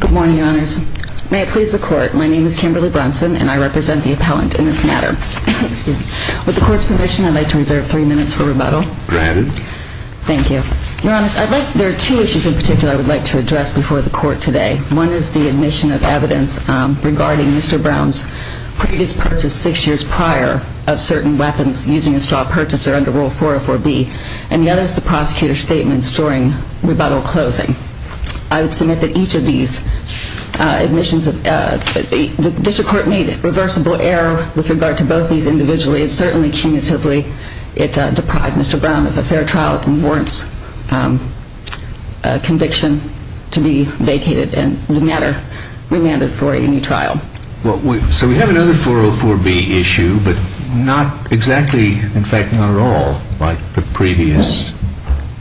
Good morning, Your Honors. May it please the Court, my name is Kimberly Brunson and I represent the appellant in this matter. With the Court's permission, I'd like to reserve three minutes for rebuttal. Granted. Thank you. Your Honors, there are two issues in particular I would like to address before the Court today. One is the admission of evidence regarding Mr. Brown's previous purchase six years prior of certain weapons using a straw purchaser under Rule 404B, and the other is the prosecutor's statements during rebuttal closing. I would submit that each of these admissions, the District Court made a reversible error with regard to both these individually and certainly cumulatively. It deprived Mr. Brown of a fair trial and warrants conviction to be vacated and no matter, remanded for a new trial. So we have another 404B issue, but not exactly, in fact not at all, like the previous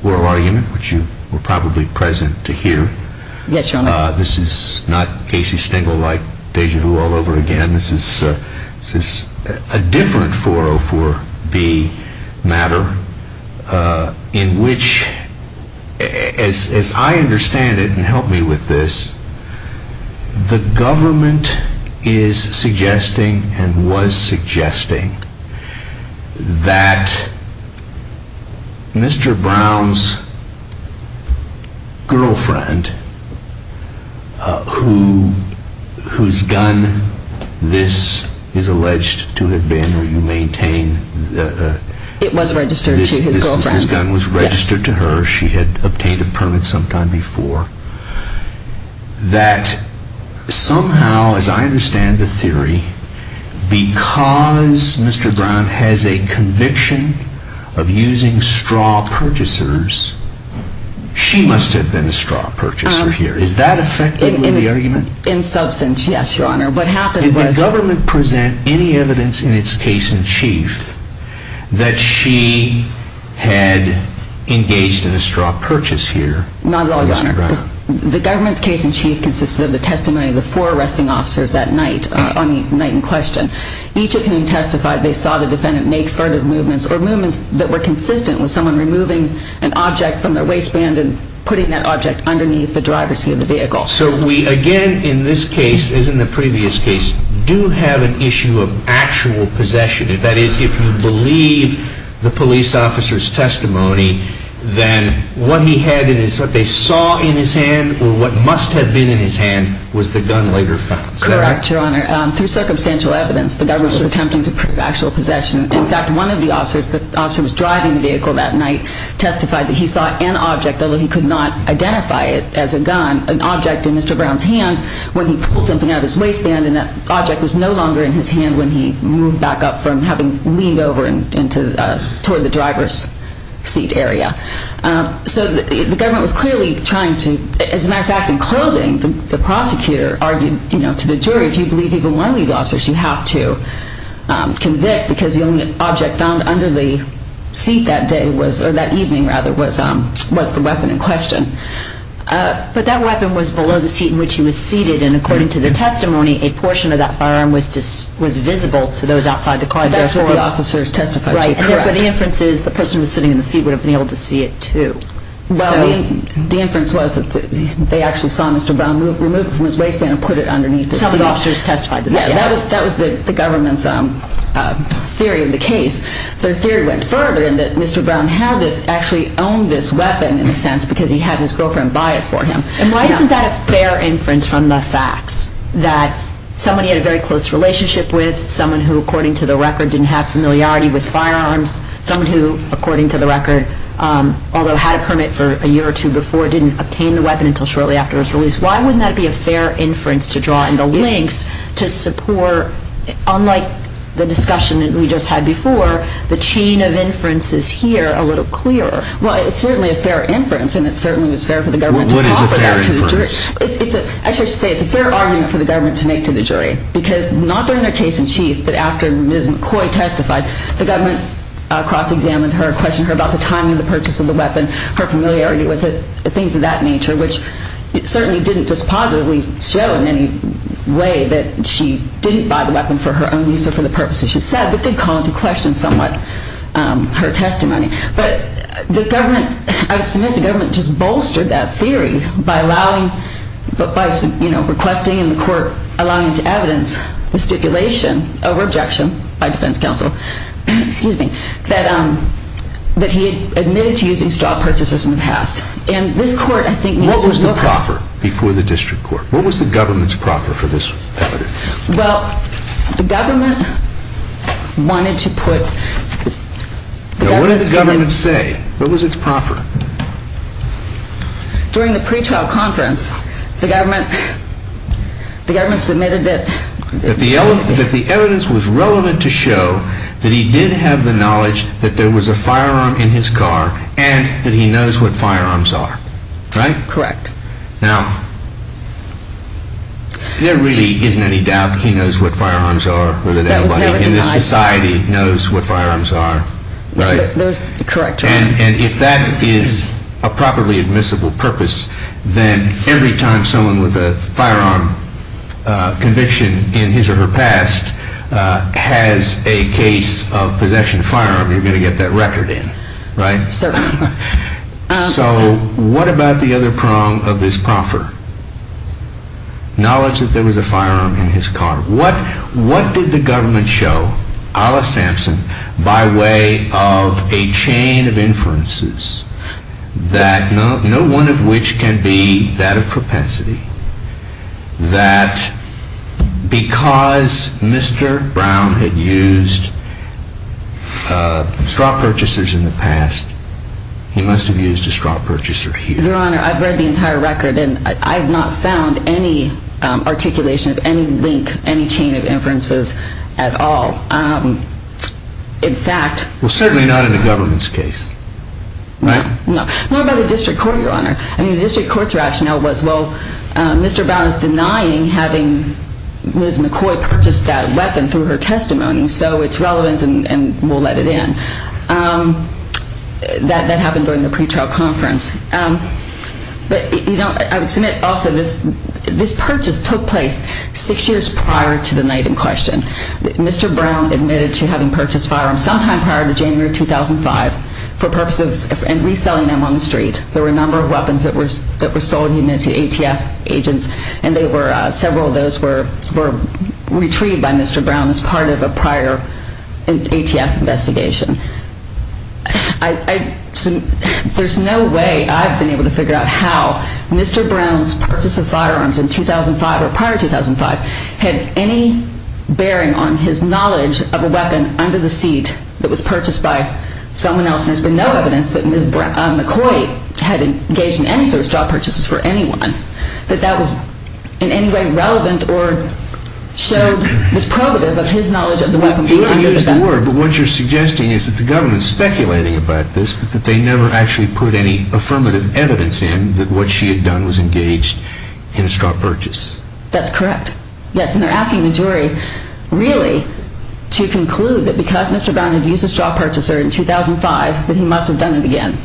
oral argument which you were probably present to hear. This is not Casey Stengel like Deja Do all over again. This is a different 404B matter in which, as I understand it, and help is suggesting and was suggesting that Mr. Brown's girlfriend, whose gun this is alleged to have been, or you maintain, this gun was registered to her, she had obtained a permit sometime before, that somehow, as I understand the theory, because Mr. Brown has a conviction of using straw purchasers, she must have been a straw purchaser here. Is that effective in the argument? In substance, yes, Your Honor. What happened was Did the government present any evidence in its case-in-chief that she had engaged in nonviolence? No, Your Honor. The government's case-in-chief consisted of the testimony of the four arresting officers that night, on the night in question. Each of whom testified, they saw the defendant make furtive movements or movements that were consistent with someone removing an object from their waistband and putting that object underneath the driver's seat of the vehicle. So we again, in this case, as in the previous case, do have an issue of actual possession. That is, if you believe the police officer's testimony, then what he had in his, what they saw in his hand, or what must have been in his hand, was the gun later found. Correct, Your Honor. Through circumstantial evidence, the government was attempting to prove actual possession. In fact, one of the officers, the officer who was driving the vehicle that night, testified that he saw an object, although he could not identify it as a gun, an object in Mr. Brown's hand when he pulled something out of his waistband, and that object was no longer in his hand when he moved back up from having leaned over into, toward the driver's seat area. So the government was clearly trying to, as a matter of fact, in closing, the prosecutor argued, you know, to the jury, if you believe even one of these officers, you have to convict, because the only object found under the seat that day was, or that evening, rather, was the weapon in question. But that weapon was below the seat in which he was seated, and according to the testimony, a portion of that firearm was visible to those outside the car. But that's what the officers testified to, correct. Right, and therefore the inference is, the person who was sitting in the seat would have been able to see it too. Well, the inference was that they actually saw Mr. Brown remove it from his waistband and put it underneath the seat. Some of the officers testified to that, yes. Yeah, that was the government's theory of the case. Their theory went further, in that Mr. Brown had this, actually owned this weapon, in a sense, because he had his girlfriend buy it for him. And why isn't that a fair inference from the facts, that somebody had a very close relationship with, someone who, according to the record, didn't have familiarity with firearms, someone who, according to the record, although had a permit for a year or two before, didn't obtain the weapon until shortly after his release? Why wouldn't that be a fair inference to draw in the links to support, unlike the discussion that we just had before, the chain of inferences here a little clearer? Well, it's certainly a fair inference, and it certainly was fair for the government to make that to the jury. It's a fair inference. Actually, I should say, it's a fair argument for the government to make to the jury, because not during their case in chief, but after Ms. McCoy testified, the government cross-examined her, questioned her about the timing of the purchase of the weapon, her familiarity with it, things of that nature, which certainly didn't just positively show in any way that she didn't buy the weapon for her own use or for the purposes she said, but did call into question somewhat her testimony. But the government, I would submit, the government just bolstered that theory by allowing, by requesting in the court, allowing to evidence the stipulation of objection by defense counsel that he had admitted to using straw purchasers in the past. And this court, I think, needs to look at- What was the proffer before the district court? What was the government's proffer for this evidence? Well, the government wanted to put- Now, what did the government say? What was its proffer? During the pretrial conference, the government, the government submitted that- That the evidence was relevant to show that he did have the knowledge that there was a firearm in his car and that he knows what firearms are, right? Correct. Now, there really isn't any doubt he knows what firearms are, whether anybody in this society knows what firearms are, right? Correct. And if that is a properly admissible purpose, then every time someone with a firearm conviction in his or her past has a case of possession of a firearm, you're going to get that record in, right? Certainly. So, what about the other prong of his proffer? Knowledge that there was a firearm in his car. What did the government show, a la Sampson, by way of a chain of inferences that no one of which can be that of propensity, that because Mr. Brown had used straw purchasers in the past, he must have used a straw purchaser here. Your Honor, I've read the entire record and I've not found any articulation of any link, any chain of inferences at all. In fact- Well, certainly not in the government's case, right? No. What about the district court, Your Honor? I mean, the district court's rationale was, well, Mr. Brown is denying having Ms. McCoy purchased that weapon through her testimony, so it's relevant and we'll let it in. That happened during the pretrial conference. But, you know, I would submit also this purchase took place six years prior to the night in question. Mr. Brown admitted to having purchased firearms sometime prior to January of 2005 for purposes of reselling them on the street. There were a number of weapons that were sold to ATF agents and several of those were retrieved by Mr. Brown as part of a prior ATF investigation. There's no way I've been able to figure out how Mr. Brown's purchase of firearms in 2005 or prior to 2005 had any bearing on his knowledge of a weapon under the seat that was purchased by someone else and there's been no evidence that Ms. McCoy had engaged in any sort of You've already used the word, but what you're suggesting is that the government's speculating about this, but that they never actually put any affirmative evidence in that what she had done was engaged in a straw purchase. That's correct. Yes, and they're asking the jury, really, to conclude that because Mr. Brown had used a straw purchaser in 2005 that he must have done it again.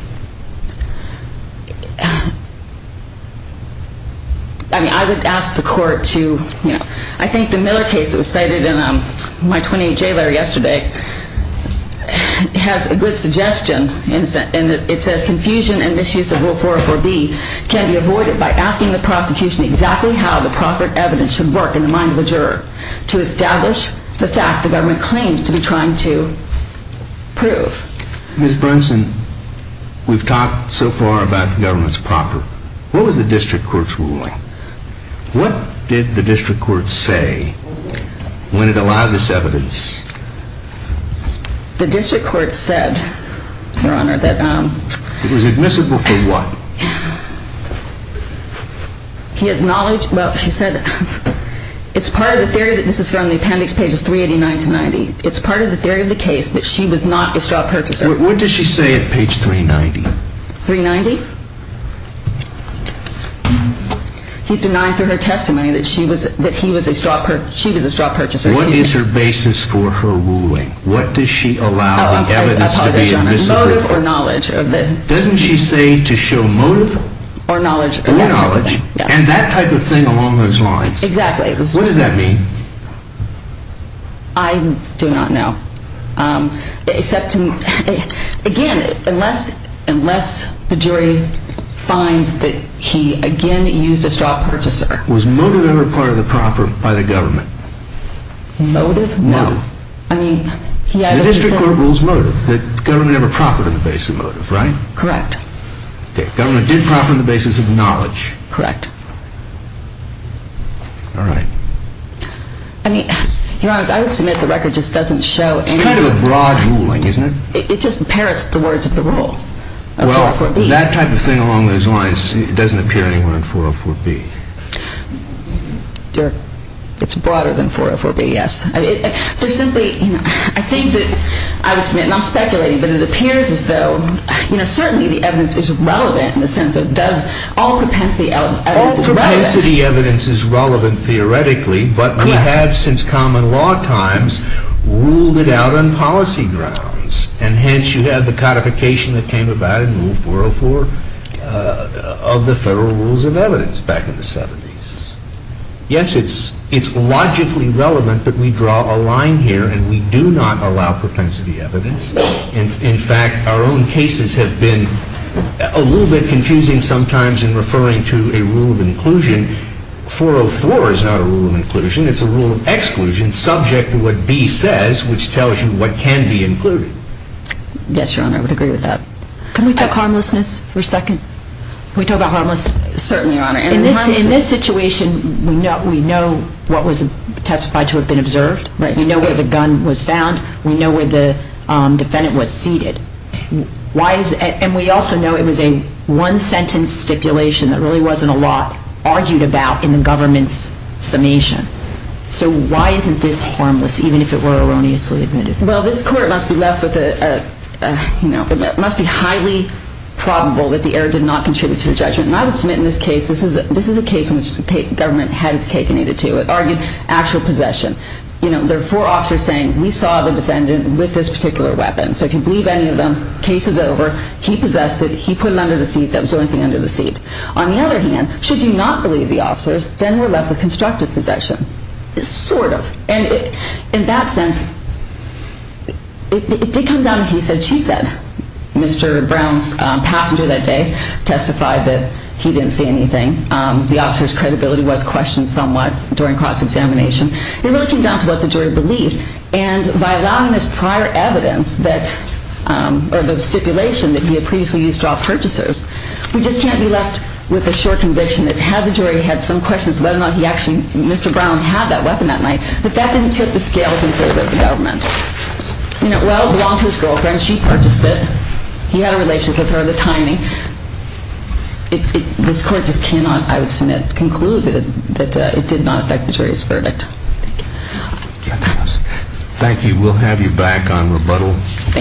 I mean, I would ask the court to, you know, I think the Miller case that was cited in my 28J letter yesterday has a good suggestion and it says confusion and misuse of Rule 404B can be avoided by asking the prosecution exactly how the proffered evidence should work in the mind of the juror to establish the fact the government claims to be trying to prove. Ms. Brunson, we've talked so far about the government's proffer. What was the district court's ruling? What did the district court say when it allowed this evidence? The district court said, Your Honor, that It was admissible for what? He has knowledge, well, she said it's part of the theory, this is from the appendix pages It's part of the theory of the case that she was not a straw purchaser. What does she say at page 390? 390? He's denying through her testimony that she was a straw purchaser. What is her basis for her ruling? What does she allow the evidence to be admissible for? Motive or knowledge. Doesn't she say to show motive? Or knowledge. Or knowledge. And that type of thing along those lines. Exactly. What does that mean? I do not know. Again, unless the jury finds that he again used a straw purchaser. Was motive ever part of the proffer by the government? Motive? No. The district court rules motive. The government never proffered on the basis of motive, right? Correct. The government did proffer on the basis of knowledge. Correct. All right. I mean, Your Honor, I would submit the record just doesn't show any... It's kind of a broad ruling, isn't it? It just parrots the words of the rule. Well, that type of thing along those lines doesn't appear anywhere in 404B. It's broader than 404B, yes. For simply, I think that, I would submit, and I'm speculating, but it appears as though, you know, certainly the evidence is relevant in the sense of all propensity evidence is relevant. All propensity evidence is relevant theoretically, but we have, since common law times, ruled it out on policy grounds, and hence you have the codification that came about in Rule 404 of the Federal Rules of Evidence back in the 70s. Yes, it's logically relevant, but we draw a line here, and we do not allow propensity evidence. In fact, our own cases have been a little bit confusing sometimes in referring to a rule of inclusion. 404 is not a rule of inclusion. It's a rule of exclusion subject to what B says, which tells you what can be included. Yes, Your Honor, I would agree with that. Can we talk harmlessness for a second? Can we talk about harmlessness? Certainly, Your Honor. In this situation, we know what was testified to have been observed. We know where the gun was found. We know where the defendant was seated. And we also know it was a one-sentence stipulation that really wasn't a lot argued about in the government's summation. So why isn't this harmless, even if it were erroneously admitted? Well, this Court must be highly probable that the error did not contribute to the judgment. And I would submit in this case, this is a case in which the government had its cake and ate it too. It argued actual possession. There are four officers saying, we saw the defendant with this particular weapon, so I can believe any of them. Case is over. He possessed it. He put it under the seat. That was the only thing under the seat. On the other hand, should you not believe the officers, then we're left with constructive possession. Sort of. And in that sense, it did come down to he said, she said. Mr. Brown's passenger that day testified that he didn't see anything. The officer's credibility was questioned somewhat during cross-examination. It really came down to what the jury believed. And by allowing this prior evidence that, or the stipulation that he had previously used to offer purchasers, we just can't be left with the short conviction that had the jury had some questions whether or not he actually, Mr. Brown, had that weapon that night, that that didn't tip the scales in favor of the government. You know, well, it belonged to his girlfriend. She purchased it. He had a relationship with her at the time. This Court just cannot, I would submit, conclude that it did not affect the jury's verdict. Thank you. Thank you. We'll have you back on rebuttal in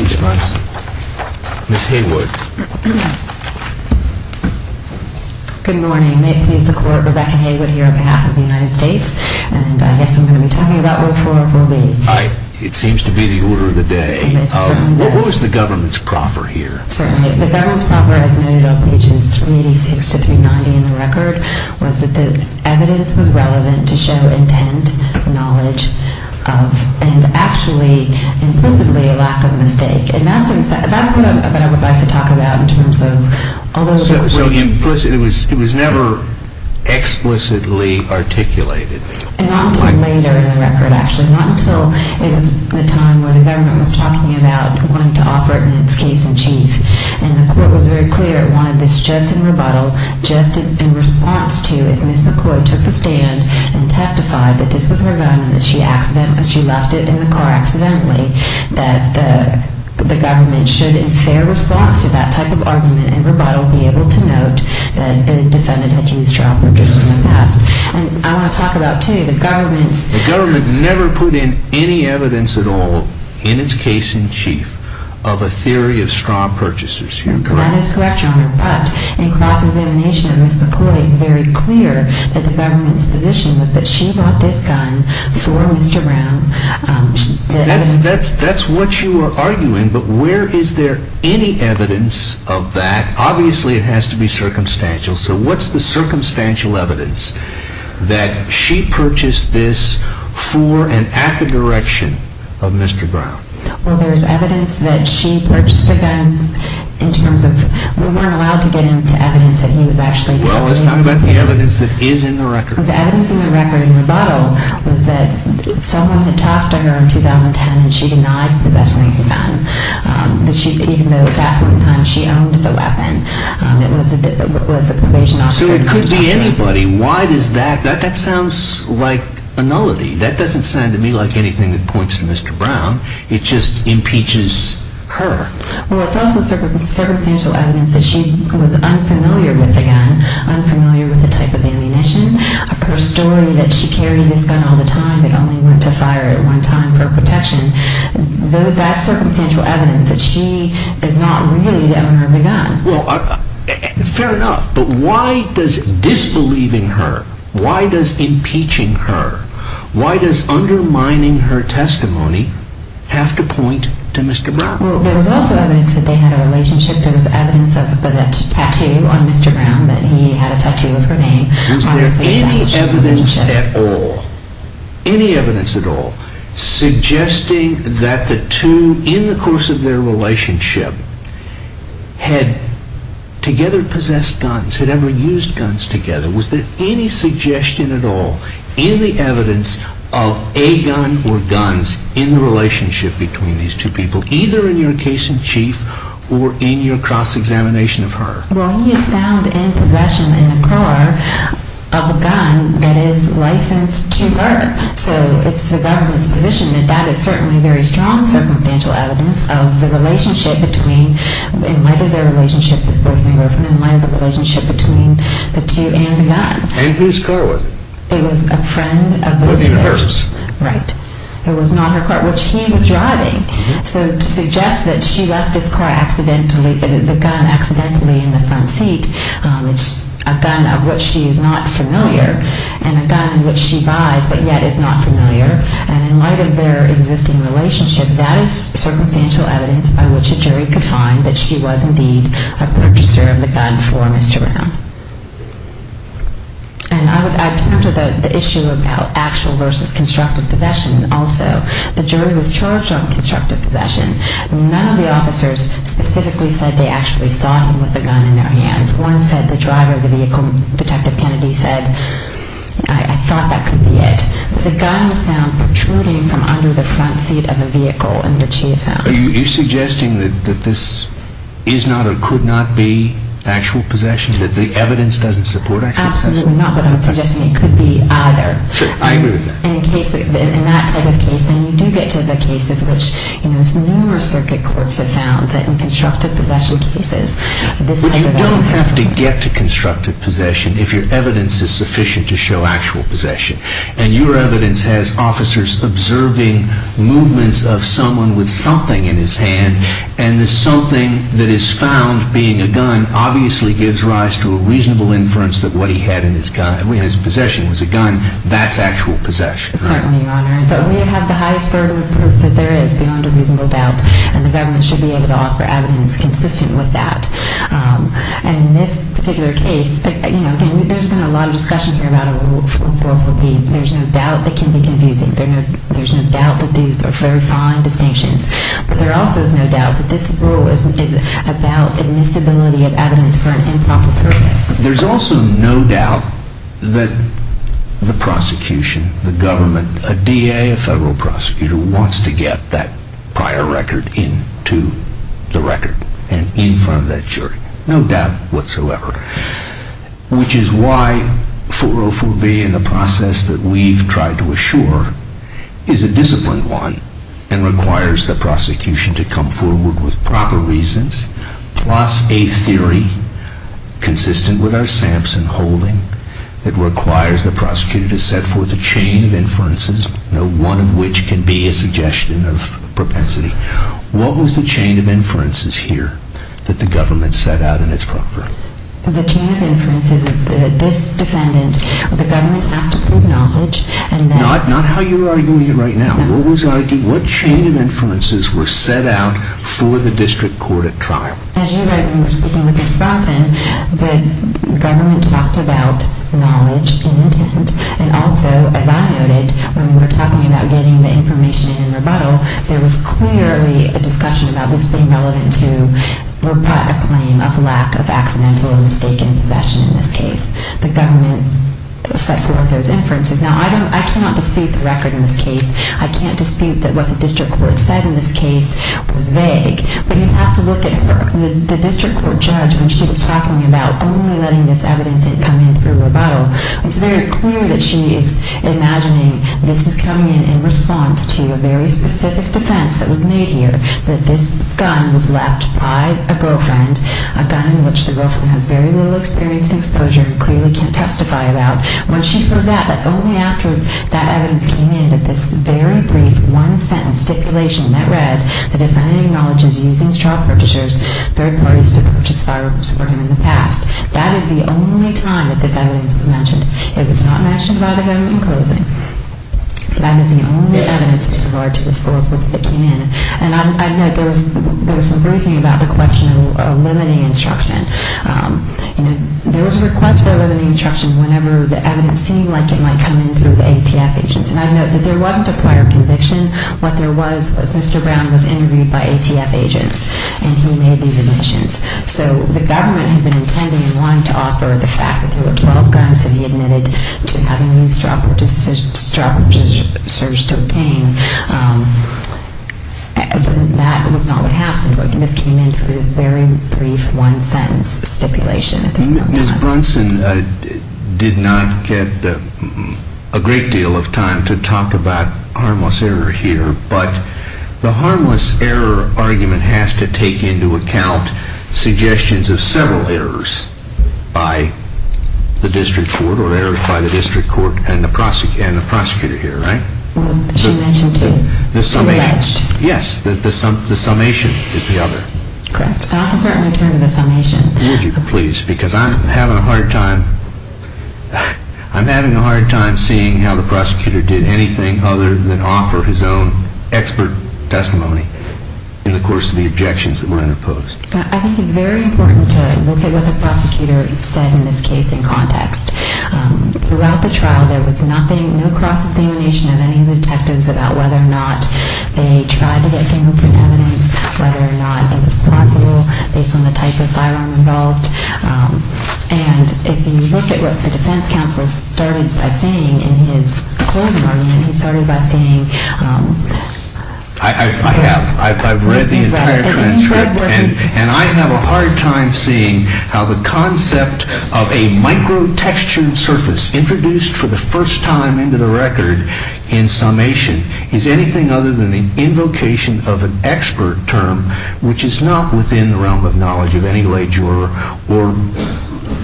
response. Thank you. Ms. Haywood. Good morning. May it please the Court, Rebecca Haywood here on behalf of the United States. And I guess I'm going to be talking about what 4 will be. It seems to be the order of the day. What was the government's proffer here? Certainly. The government's proffer, as noted on pages 386 to 390 in the record, was that the evidence was relevant to show intent, knowledge, and actually, implicitly, a lack of mistake. And that's what I would like to talk about in terms of although the Court So implicit, it was never explicitly articulated. Not until later in the record, actually. Not until it was the time where the government was talking about wanting to offer it in its case in chief. And the Court was very clear it wanted this just in rebuttal, just in response to if Ms. McCoy took the stand and testified that this was her gun and that she left it in the car accidentally, that the government should, in fair response to that type of argument in rebuttal, be able to note that the defendant had used straw purchasers in the past. And I want to talk about, too, the government's The government never put in any evidence at all in its case in chief You're correct. That is correct, Your Honor. But in cross-examination of Ms. McCoy, it's very clear that the government's position was that she bought this gun for Mr. Brown. That's what you are arguing, but where is there any evidence of that? Obviously, it has to be circumstantial. So what's the circumstantial evidence that she purchased this for and at the direction of Mr. Brown? Well, there's evidence that she purchased a gun in terms of We weren't allowed to get into evidence that he was actually Well, let's talk about the evidence that is in the record. The evidence in the record in rebuttal was that someone had talked to her in 2010 and she denied possessing the gun. Even though at that point in time she owned the weapon, it was the probation officer who talked to her. So it could be anybody. Why does that? That sounds like a nullity. That doesn't sound to me like anything that points to Mr. Brown. It just impeaches her. Well, it's also circumstantial evidence that she was unfamiliar with the gun, unfamiliar with the type of ammunition. Her story that she carried this gun all the time and only went to fire it one time for protection. That's circumstantial evidence that she is not really the owner of the gun. Well, fair enough, but why does disbelieving her, why does impeaching her, why does undermining her testimony have to point to Mr. Brown? Well, there was also evidence that they had a relationship. There was evidence of a tattoo on Mr. Brown that he had a tattoo of her name. Was there any evidence at all, any evidence at all, suggesting that the two, in the course of their relationship, had together possessed guns, had ever used guns together? Was there any suggestion at all, any evidence of a gun or guns in the relationship between these two people, either in your case in chief or in your cross-examination of her? Well, he is found in possession in a car of a gun that is licensed to her. So it's the government's position that that is certainly very strong circumstantial evidence of the relationship between, in light of their relationship as boyfriend and girlfriend, in light of the relationship between the two and the gun. And whose car was it? It was a friend of hers. Right. It was not her car, which he was driving. So to suggest that she left this car accidentally, the gun accidentally in the front seat, it's a gun of which she is not familiar and a gun which she buys but yet is not familiar. And in light of their existing relationship, that is circumstantial evidence by which a jury could find that she was indeed a purchaser of the gun for Mr. Brown. And I turn to the issue of actual versus constructive possession also. The jury was charged on constructive possession. None of the officers specifically said they actually saw him with a gun in their hands. One said the driver of the vehicle, Detective Kennedy, said, I thought that could be it. But the gun was found protruding from under the front seat of a vehicle and that she is found. Are you suggesting that this is not or could not be actual possession, that the evidence doesn't support actual possession? Absolutely not. But I'm suggesting it could be either. Sure. I agree with that. And in that type of case, then you do get to the cases which numerous circuit courts have found that in constructive possession cases, this type of evidence... You don't have to get to constructive possession if your evidence is sufficient to show actual possession. And your evidence has officers observing movements of someone with something in his hand and the something that is found being a gun obviously gives rise to a reasonable inference that what he had in his possession was a gun. That's actual possession. Certainly, Your Honor. But we have the highest level of proof that there is beyond a reasonable doubt. And the government should be able to offer evidence consistent with that. And in this particular case, you know, there's been a lot of discussion here about what the rule would be. There's no doubt it can be confusing. There's no doubt that these are very fine distinctions. But there also is no doubt that this rule is about admissibility of evidence for an improper purpose. There's also no doubt that the prosecution, the government, a DA, a federal prosecutor wants to get that prior record into the record and in front of that jury. No doubt whatsoever. Which is why 404B in the process that we've tried to assure is a disciplined one and requires the prosecution to come forward with proper reasons plus a theory consistent with our Sampson holding that requires the prosecutor to set forth a chain of inferences, no one of which can be a suggestion of propensity. What was the chain of inferences here that the government set out in its property? The chain of inferences of this defendant, the government has to put knowledge and then... Not how you're arguing it right now. What chain of inferences were set out for the district court at trial? As you write when you're speaking with Ms. Bronson, the government talked about knowledge and intent and also, as I noted, when we were talking about getting the information in rebuttal, there was clearly a discussion about this being relevant to a claim of lack of accidental or mistaken possession in this case. The government set forth those inferences. Now, I cannot dispute the record in this case. I can't dispute that what the district court said in this case was vague. But you have to look at her. The district court judge, when she was talking about only letting this evidence come in through rebuttal, it's very clear that she is imagining this is coming in in response to a very specific defense that was made here, that this gun was left by a girlfriend, a gun in which the girlfriend has very little experience in exposure and clearly can't testify about. When she heard that, that's only after that evidence came in, that this very brief one-sentence stipulation that read, the defendant acknowledges using child purchasers, third parties to purchase firearms for him in the past. That is the only time that this evidence was mentioned. It was not mentioned by the government in closing. That is the only evidence we provide to this court when it came in. And I know there was some briefing about the question of eliminating instruction. There was a request for eliminating instruction whenever the evidence seemed like it might come in through the ATF agents. And I know that there was a prior conviction. What there was was Mr. Brown was interviewed by ATF agents, and he made these admissions. So the government had been intending and wanting to offer the fact that there were 12 guns that he admitted to having used child purchasers to obtain. But that was not what happened. And this came in through this very brief one-sentence stipulation. Ms. Brunson did not get a great deal of time to talk about harmless error here, but the harmless error argument has to take into account suggestions of several errors by the district court, or errors by the district court and the prosecutor here, right? She mentioned two. Yes, the summation is the other. Correct. Officer, I'm going to turn to the summation. Would you please? Because I'm having a hard time seeing how the prosecutor did anything other than offer his own expert testimony in the course of the objections that were interposed. I think it's very important to look at what the prosecutor said in this case in context. Throughout the trial, there was nothing, no cross-examination of any of the detectives about whether or not they tried to get fingerprint evidence, whether or not it was possible based on the type of firearm involved. And if you look at what the defense counsel started by saying in his closing argument, he started by saying, I've read the entire transcript, and I have a hard time seeing how the concept of a micro-textured surface introduced for the first time into the record in summation is anything other than the invocation of an expert term, which is not within the realm of knowledge of any lay juror, or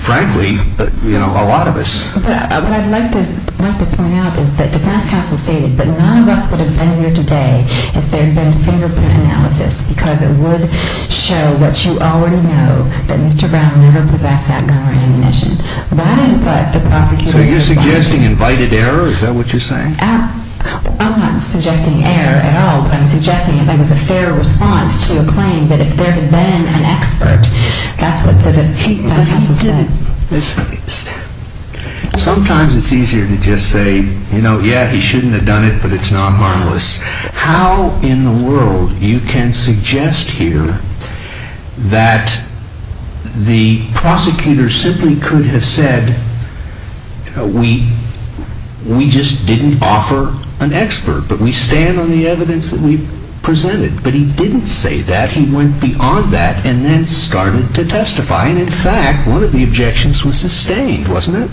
frankly, a lot of us. What I'd like to point out is that the defense counsel stated that none of us would have been here today if there had been fingerprint analysis, because it would show what you already know, that Mr. Brown never possessed that gun or ammunition. That is what the prosecutor is saying. So you're suggesting invited error? Is that what you're saying? I'm not suggesting error at all. I'm suggesting that there was a fair response to a claim that if there had been an expert, that's what the defense counsel said. Sometimes it's easier to just say, yeah, he shouldn't have done it, but it's not harmless. How in the world you can suggest here that the prosecutor simply could have said, we just didn't offer an expert, but we stand on the evidence that we've presented. But he didn't say that. And in fact, one of the objections was sustained, wasn't it?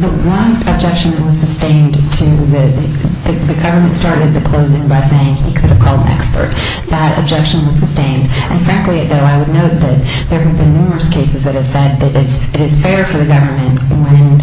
The one objection that was sustained to the government started at the closing by saying he could have called an expert. That objection was sustained. And frankly, though, I would note that there have been numerous cases that have said that it is fair for the government when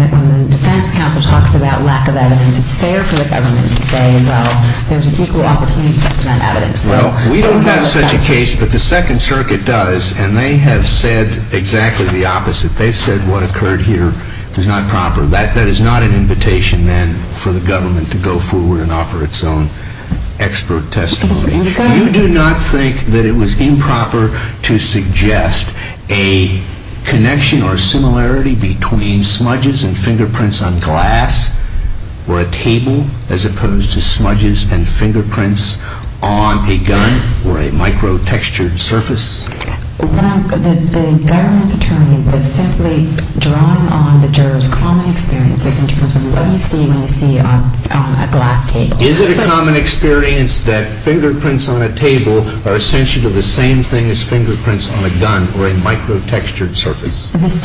the defense counsel talks about lack of evidence. It's fair for the government to say, well, there's an equal opportunity to present evidence. Well, we don't have such a case, but the Second Circuit does, and they have said exactly the opposite. They've said what occurred here is not proper. That is not an invitation, then, for the government to go forward and offer its own expert testimony. You do not think that it was improper to suggest a connection or similarity between smudges and fingerprints on glass or a table, as opposed to smudges and fingerprints on a gun or a microtextured surface? The government's attorney is simply drawing on the juror's common experiences in terms of what you see when you see on a glass table. Is it a common experience that fingerprints on a table are essentially the same thing as fingerprints on a gun or a microtextured surface? That's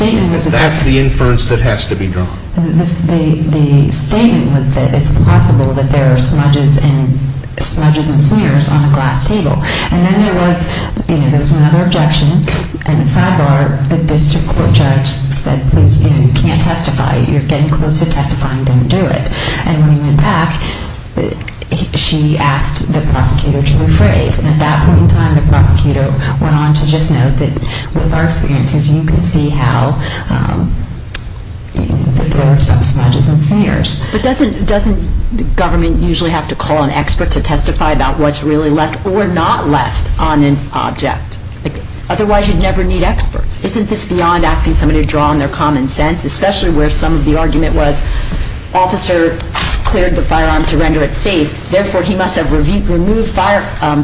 the inference that has to be drawn. The statement was that it's possible that there are smudges and smears on a glass table. And then there was another objection. And sidebar, the district court judge said, please, you can't testify. You're getting close to testifying. Don't do it. And when he went back, she asked the prosecutor to rephrase. And at that point in time, the prosecutor went on to just note that with our experiences, you can see how there are some smudges and smears. But doesn't government usually have to call an expert to testify about what's really left or not left on an object? Otherwise, you'd never need experts. Isn't this beyond asking somebody to draw on their common sense, especially where some of the argument was officer cleared the firearm to render it safe. Therefore, he must have removed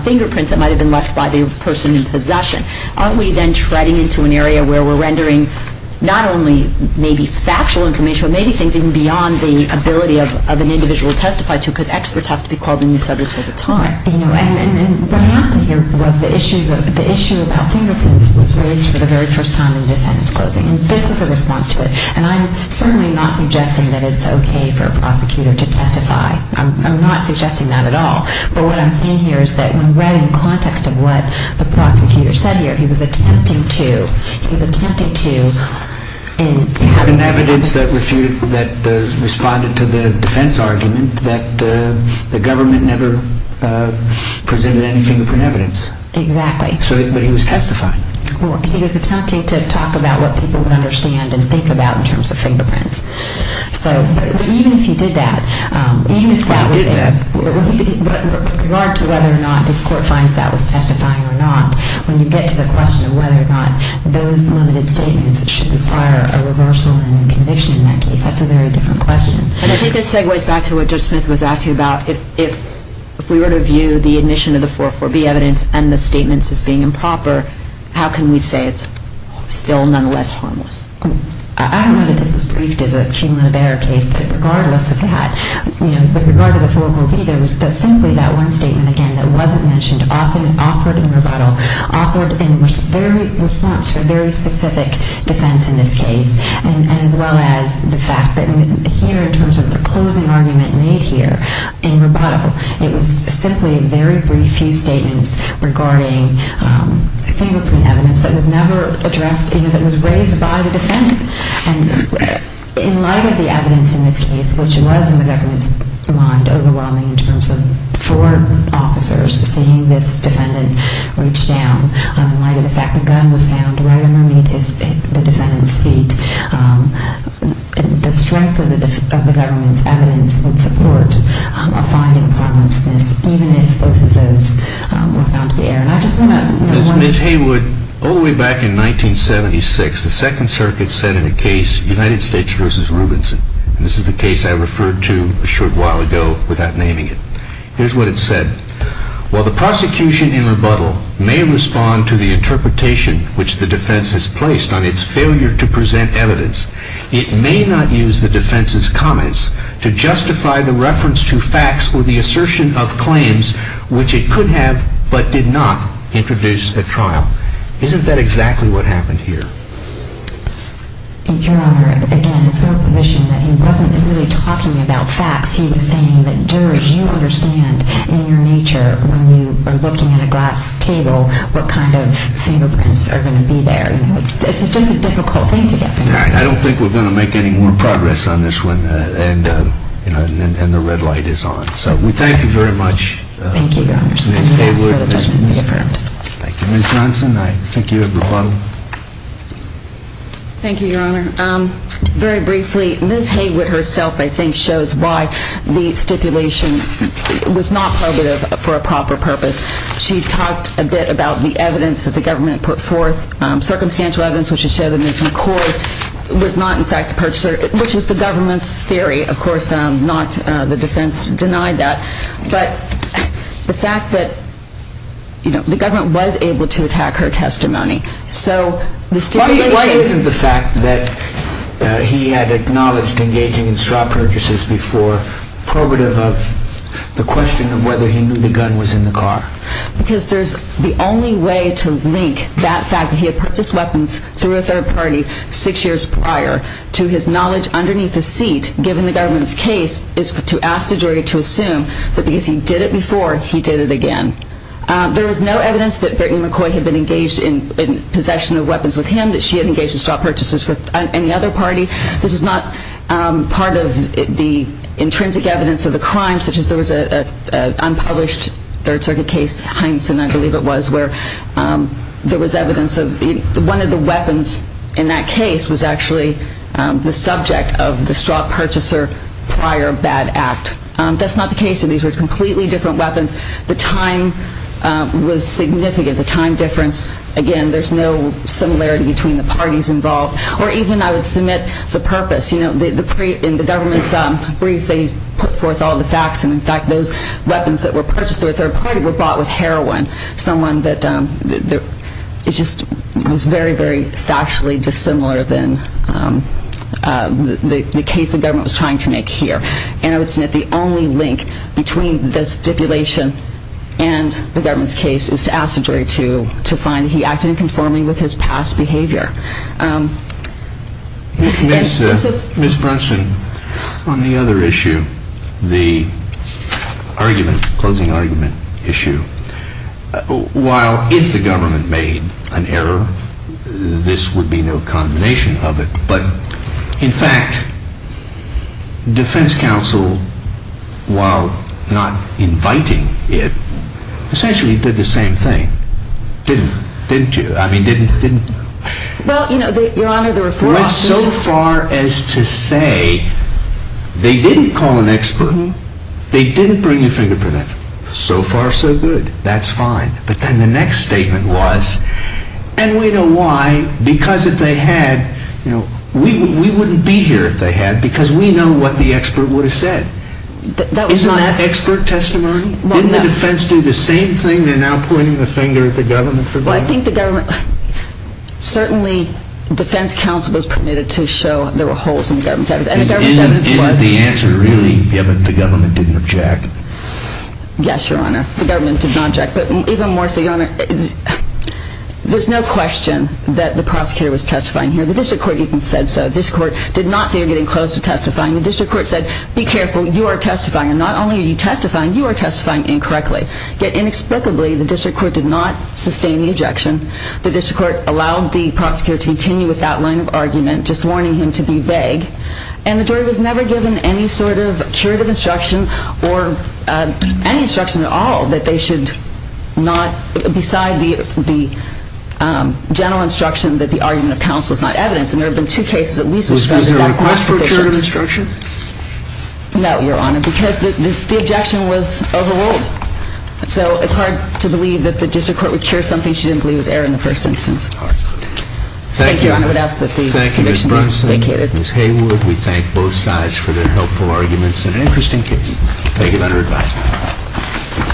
fingerprints that might have been left by the person in possession. Aren't we then treading into an area where we're rendering not only maybe factual information, but maybe things even beyond the ability of an individual to testify to, because experts have to be called on these subjects all the time. And what happened here was the issue about fingerprints was raised for the very first time in defense closing. And this was a response to it. And I'm certainly not suggesting that it's okay for a prosecutor to testify. I'm not suggesting that at all. But what I'm saying here is that when read in context of what the prosecutor said here, he was attempting to have an evidence that responded to the defense argument that the government never presented any fingerprint evidence. Exactly. But he was testifying. Well, he was attempting to talk about what people would understand and think about in terms of fingerprints. So even if he did that, even if that was it, with regard to whether or not this court finds that was testifying or not, when you get to the question of whether or not those limited statements should require a reversal and a conviction in that case, that's a very different question. And I think this segues back to what Judge Smith was asking about. If we were to view the admission of the 404B evidence and the statements as being improper, how can we say it's still nonetheless harmless? I don't know that this was briefed as a Keeneland-Berr case, but regardless of that, with regard to the 404B, there was simply that one statement, again, that wasn't mentioned, often offered in rebuttal, offered in response to a very specific defense in this case, as well as the fact that here in terms of the closing argument made here in rebuttal, it was simply very brief few statements regarding fingerprint evidence that was never addressed, you know, that was raised by the defendant. And in light of the evidence in this case, which was in the government's mind overwhelming in terms of four officers seeing this defendant reach down, in light of the fact the gun was found right underneath the defendant's feet, the strength of the government's evidence would support a fine in parliaments, even if both of those were found to be errant. Ms. Haywood, all the way back in 1976, the Second Circuit said in a case, United States v. Rubinson, and this is the case I referred to a short while ago without naming it. Here's what it said. While the prosecution in rebuttal may respond to the interpretation which the defense has placed on its failure to present evidence, it may not use the defense's comments to justify the reference to facts or the assertion of claims which it could have but did not introduce at trial. Isn't that exactly what happened here? Your Honor, again, it's my position that he wasn't really talking about facts. He was saying that, George, you understand in your nature when you are looking at a glass table what kind of fingerprints are going to be there. It's just a difficult thing to get fingerprints. I don't think we're going to make any more progress on this one. And the red light is on. So we thank you very much. Thank you, Your Honor. Ms. Haywood. Thank you. Ms. Johnson, I think you have the floor. Thank you, Your Honor. Very briefly, Ms. Haywood herself I think shows why the stipulation was not probative for a proper purpose. She talked a bit about the evidence that the government put forth. Circumstantial evidence which would show that Ms. McCord was not in fact the purchaser, which was the government's theory, of course, not the defense denied that. But the fact that the government was able to attack her testimony, so the stipulation Why isn't the fact that he had acknowledged engaging in straw purchases before probative of the question of whether he knew the gun was in the car? Because there's the only way to link that fact that he had purchased weapons through a third party six years prior to his knowledge underneath the seat, given the government's case, is to ask the jury to assume that because he did it before, he did it again. There is no evidence that Brittany McCoy had been engaged in possession of weapons with him, that she had engaged in straw purchases with any other party. This is not part of the intrinsic evidence of the crime, such as there was an unpublished Third Circuit case, Heinsohn, I believe it was, where there was evidence of one of the weapons in that case was actually the subject of the straw purchaser prior bad act. That's not the case, and these were completely different weapons. The time was significant. The time difference, again, there's no similarity between the parties involved. Or even, I would submit, the purpose. In the government's brief, they put forth all the facts, and in fact, those weapons that were purchased through a third party were bought with heroin. Someone that was very, very factually dissimilar than the case the government was trying to make here. And I would submit the only link between the stipulation and the government's case is to ask the jury to find he acted in conformity with his past behavior. Ms. Brunson, on the other issue, the closing argument issue, while if the government made an error, this would be no condemnation of it, but in fact, defense counsel, while not inviting it, essentially did the same thing. Didn't you? I mean, didn't... Well, you know, Your Honor, the reform... Went so far as to say they didn't call an expert. They didn't bring a fingerprint. So far, so good. That's fine. But then the next statement was, and we know why, because if they had, you know, we wouldn't be here if they had because we know what the expert would have said. Isn't that expert testimony? Didn't the defense do the same thing? They're now pointing the finger at the government for that? Well, I think the government... Certainly, defense counsel was permitted to show there were holes in the government's evidence. And the government's evidence was... Isn't the answer really given the government didn't object? Yes, Your Honor. The government did not object. But even more so, Your Honor, there's no question that the prosecutor was testifying here. The district court even said so. The district court did not say you're getting close to testifying. The district court said, be careful, you are testifying. And not only are you testifying, you are testifying incorrectly. Yet inexplicably, the district court did not sustain the objection. The district court allowed the prosecutor to continue with that line of argument, just warning him to be vague. And the jury was never given any sort of curative instruction or any instruction at all that they should not, beside the general instruction that the argument of counsel is not evidence. And there have been two cases at least... Was there a request for curative instruction? No, Your Honor, because the objection was overruled. So it's hard to believe that the district court would cure something she didn't believe was error in the first instance. Thank you. Thank you, Your Honor. I would ask that the conviction be vacated. Thank you, Ms. Brunson, Ms. Haywood. We thank both sides for their helpful arguments in an interesting case. Thank you for your advice.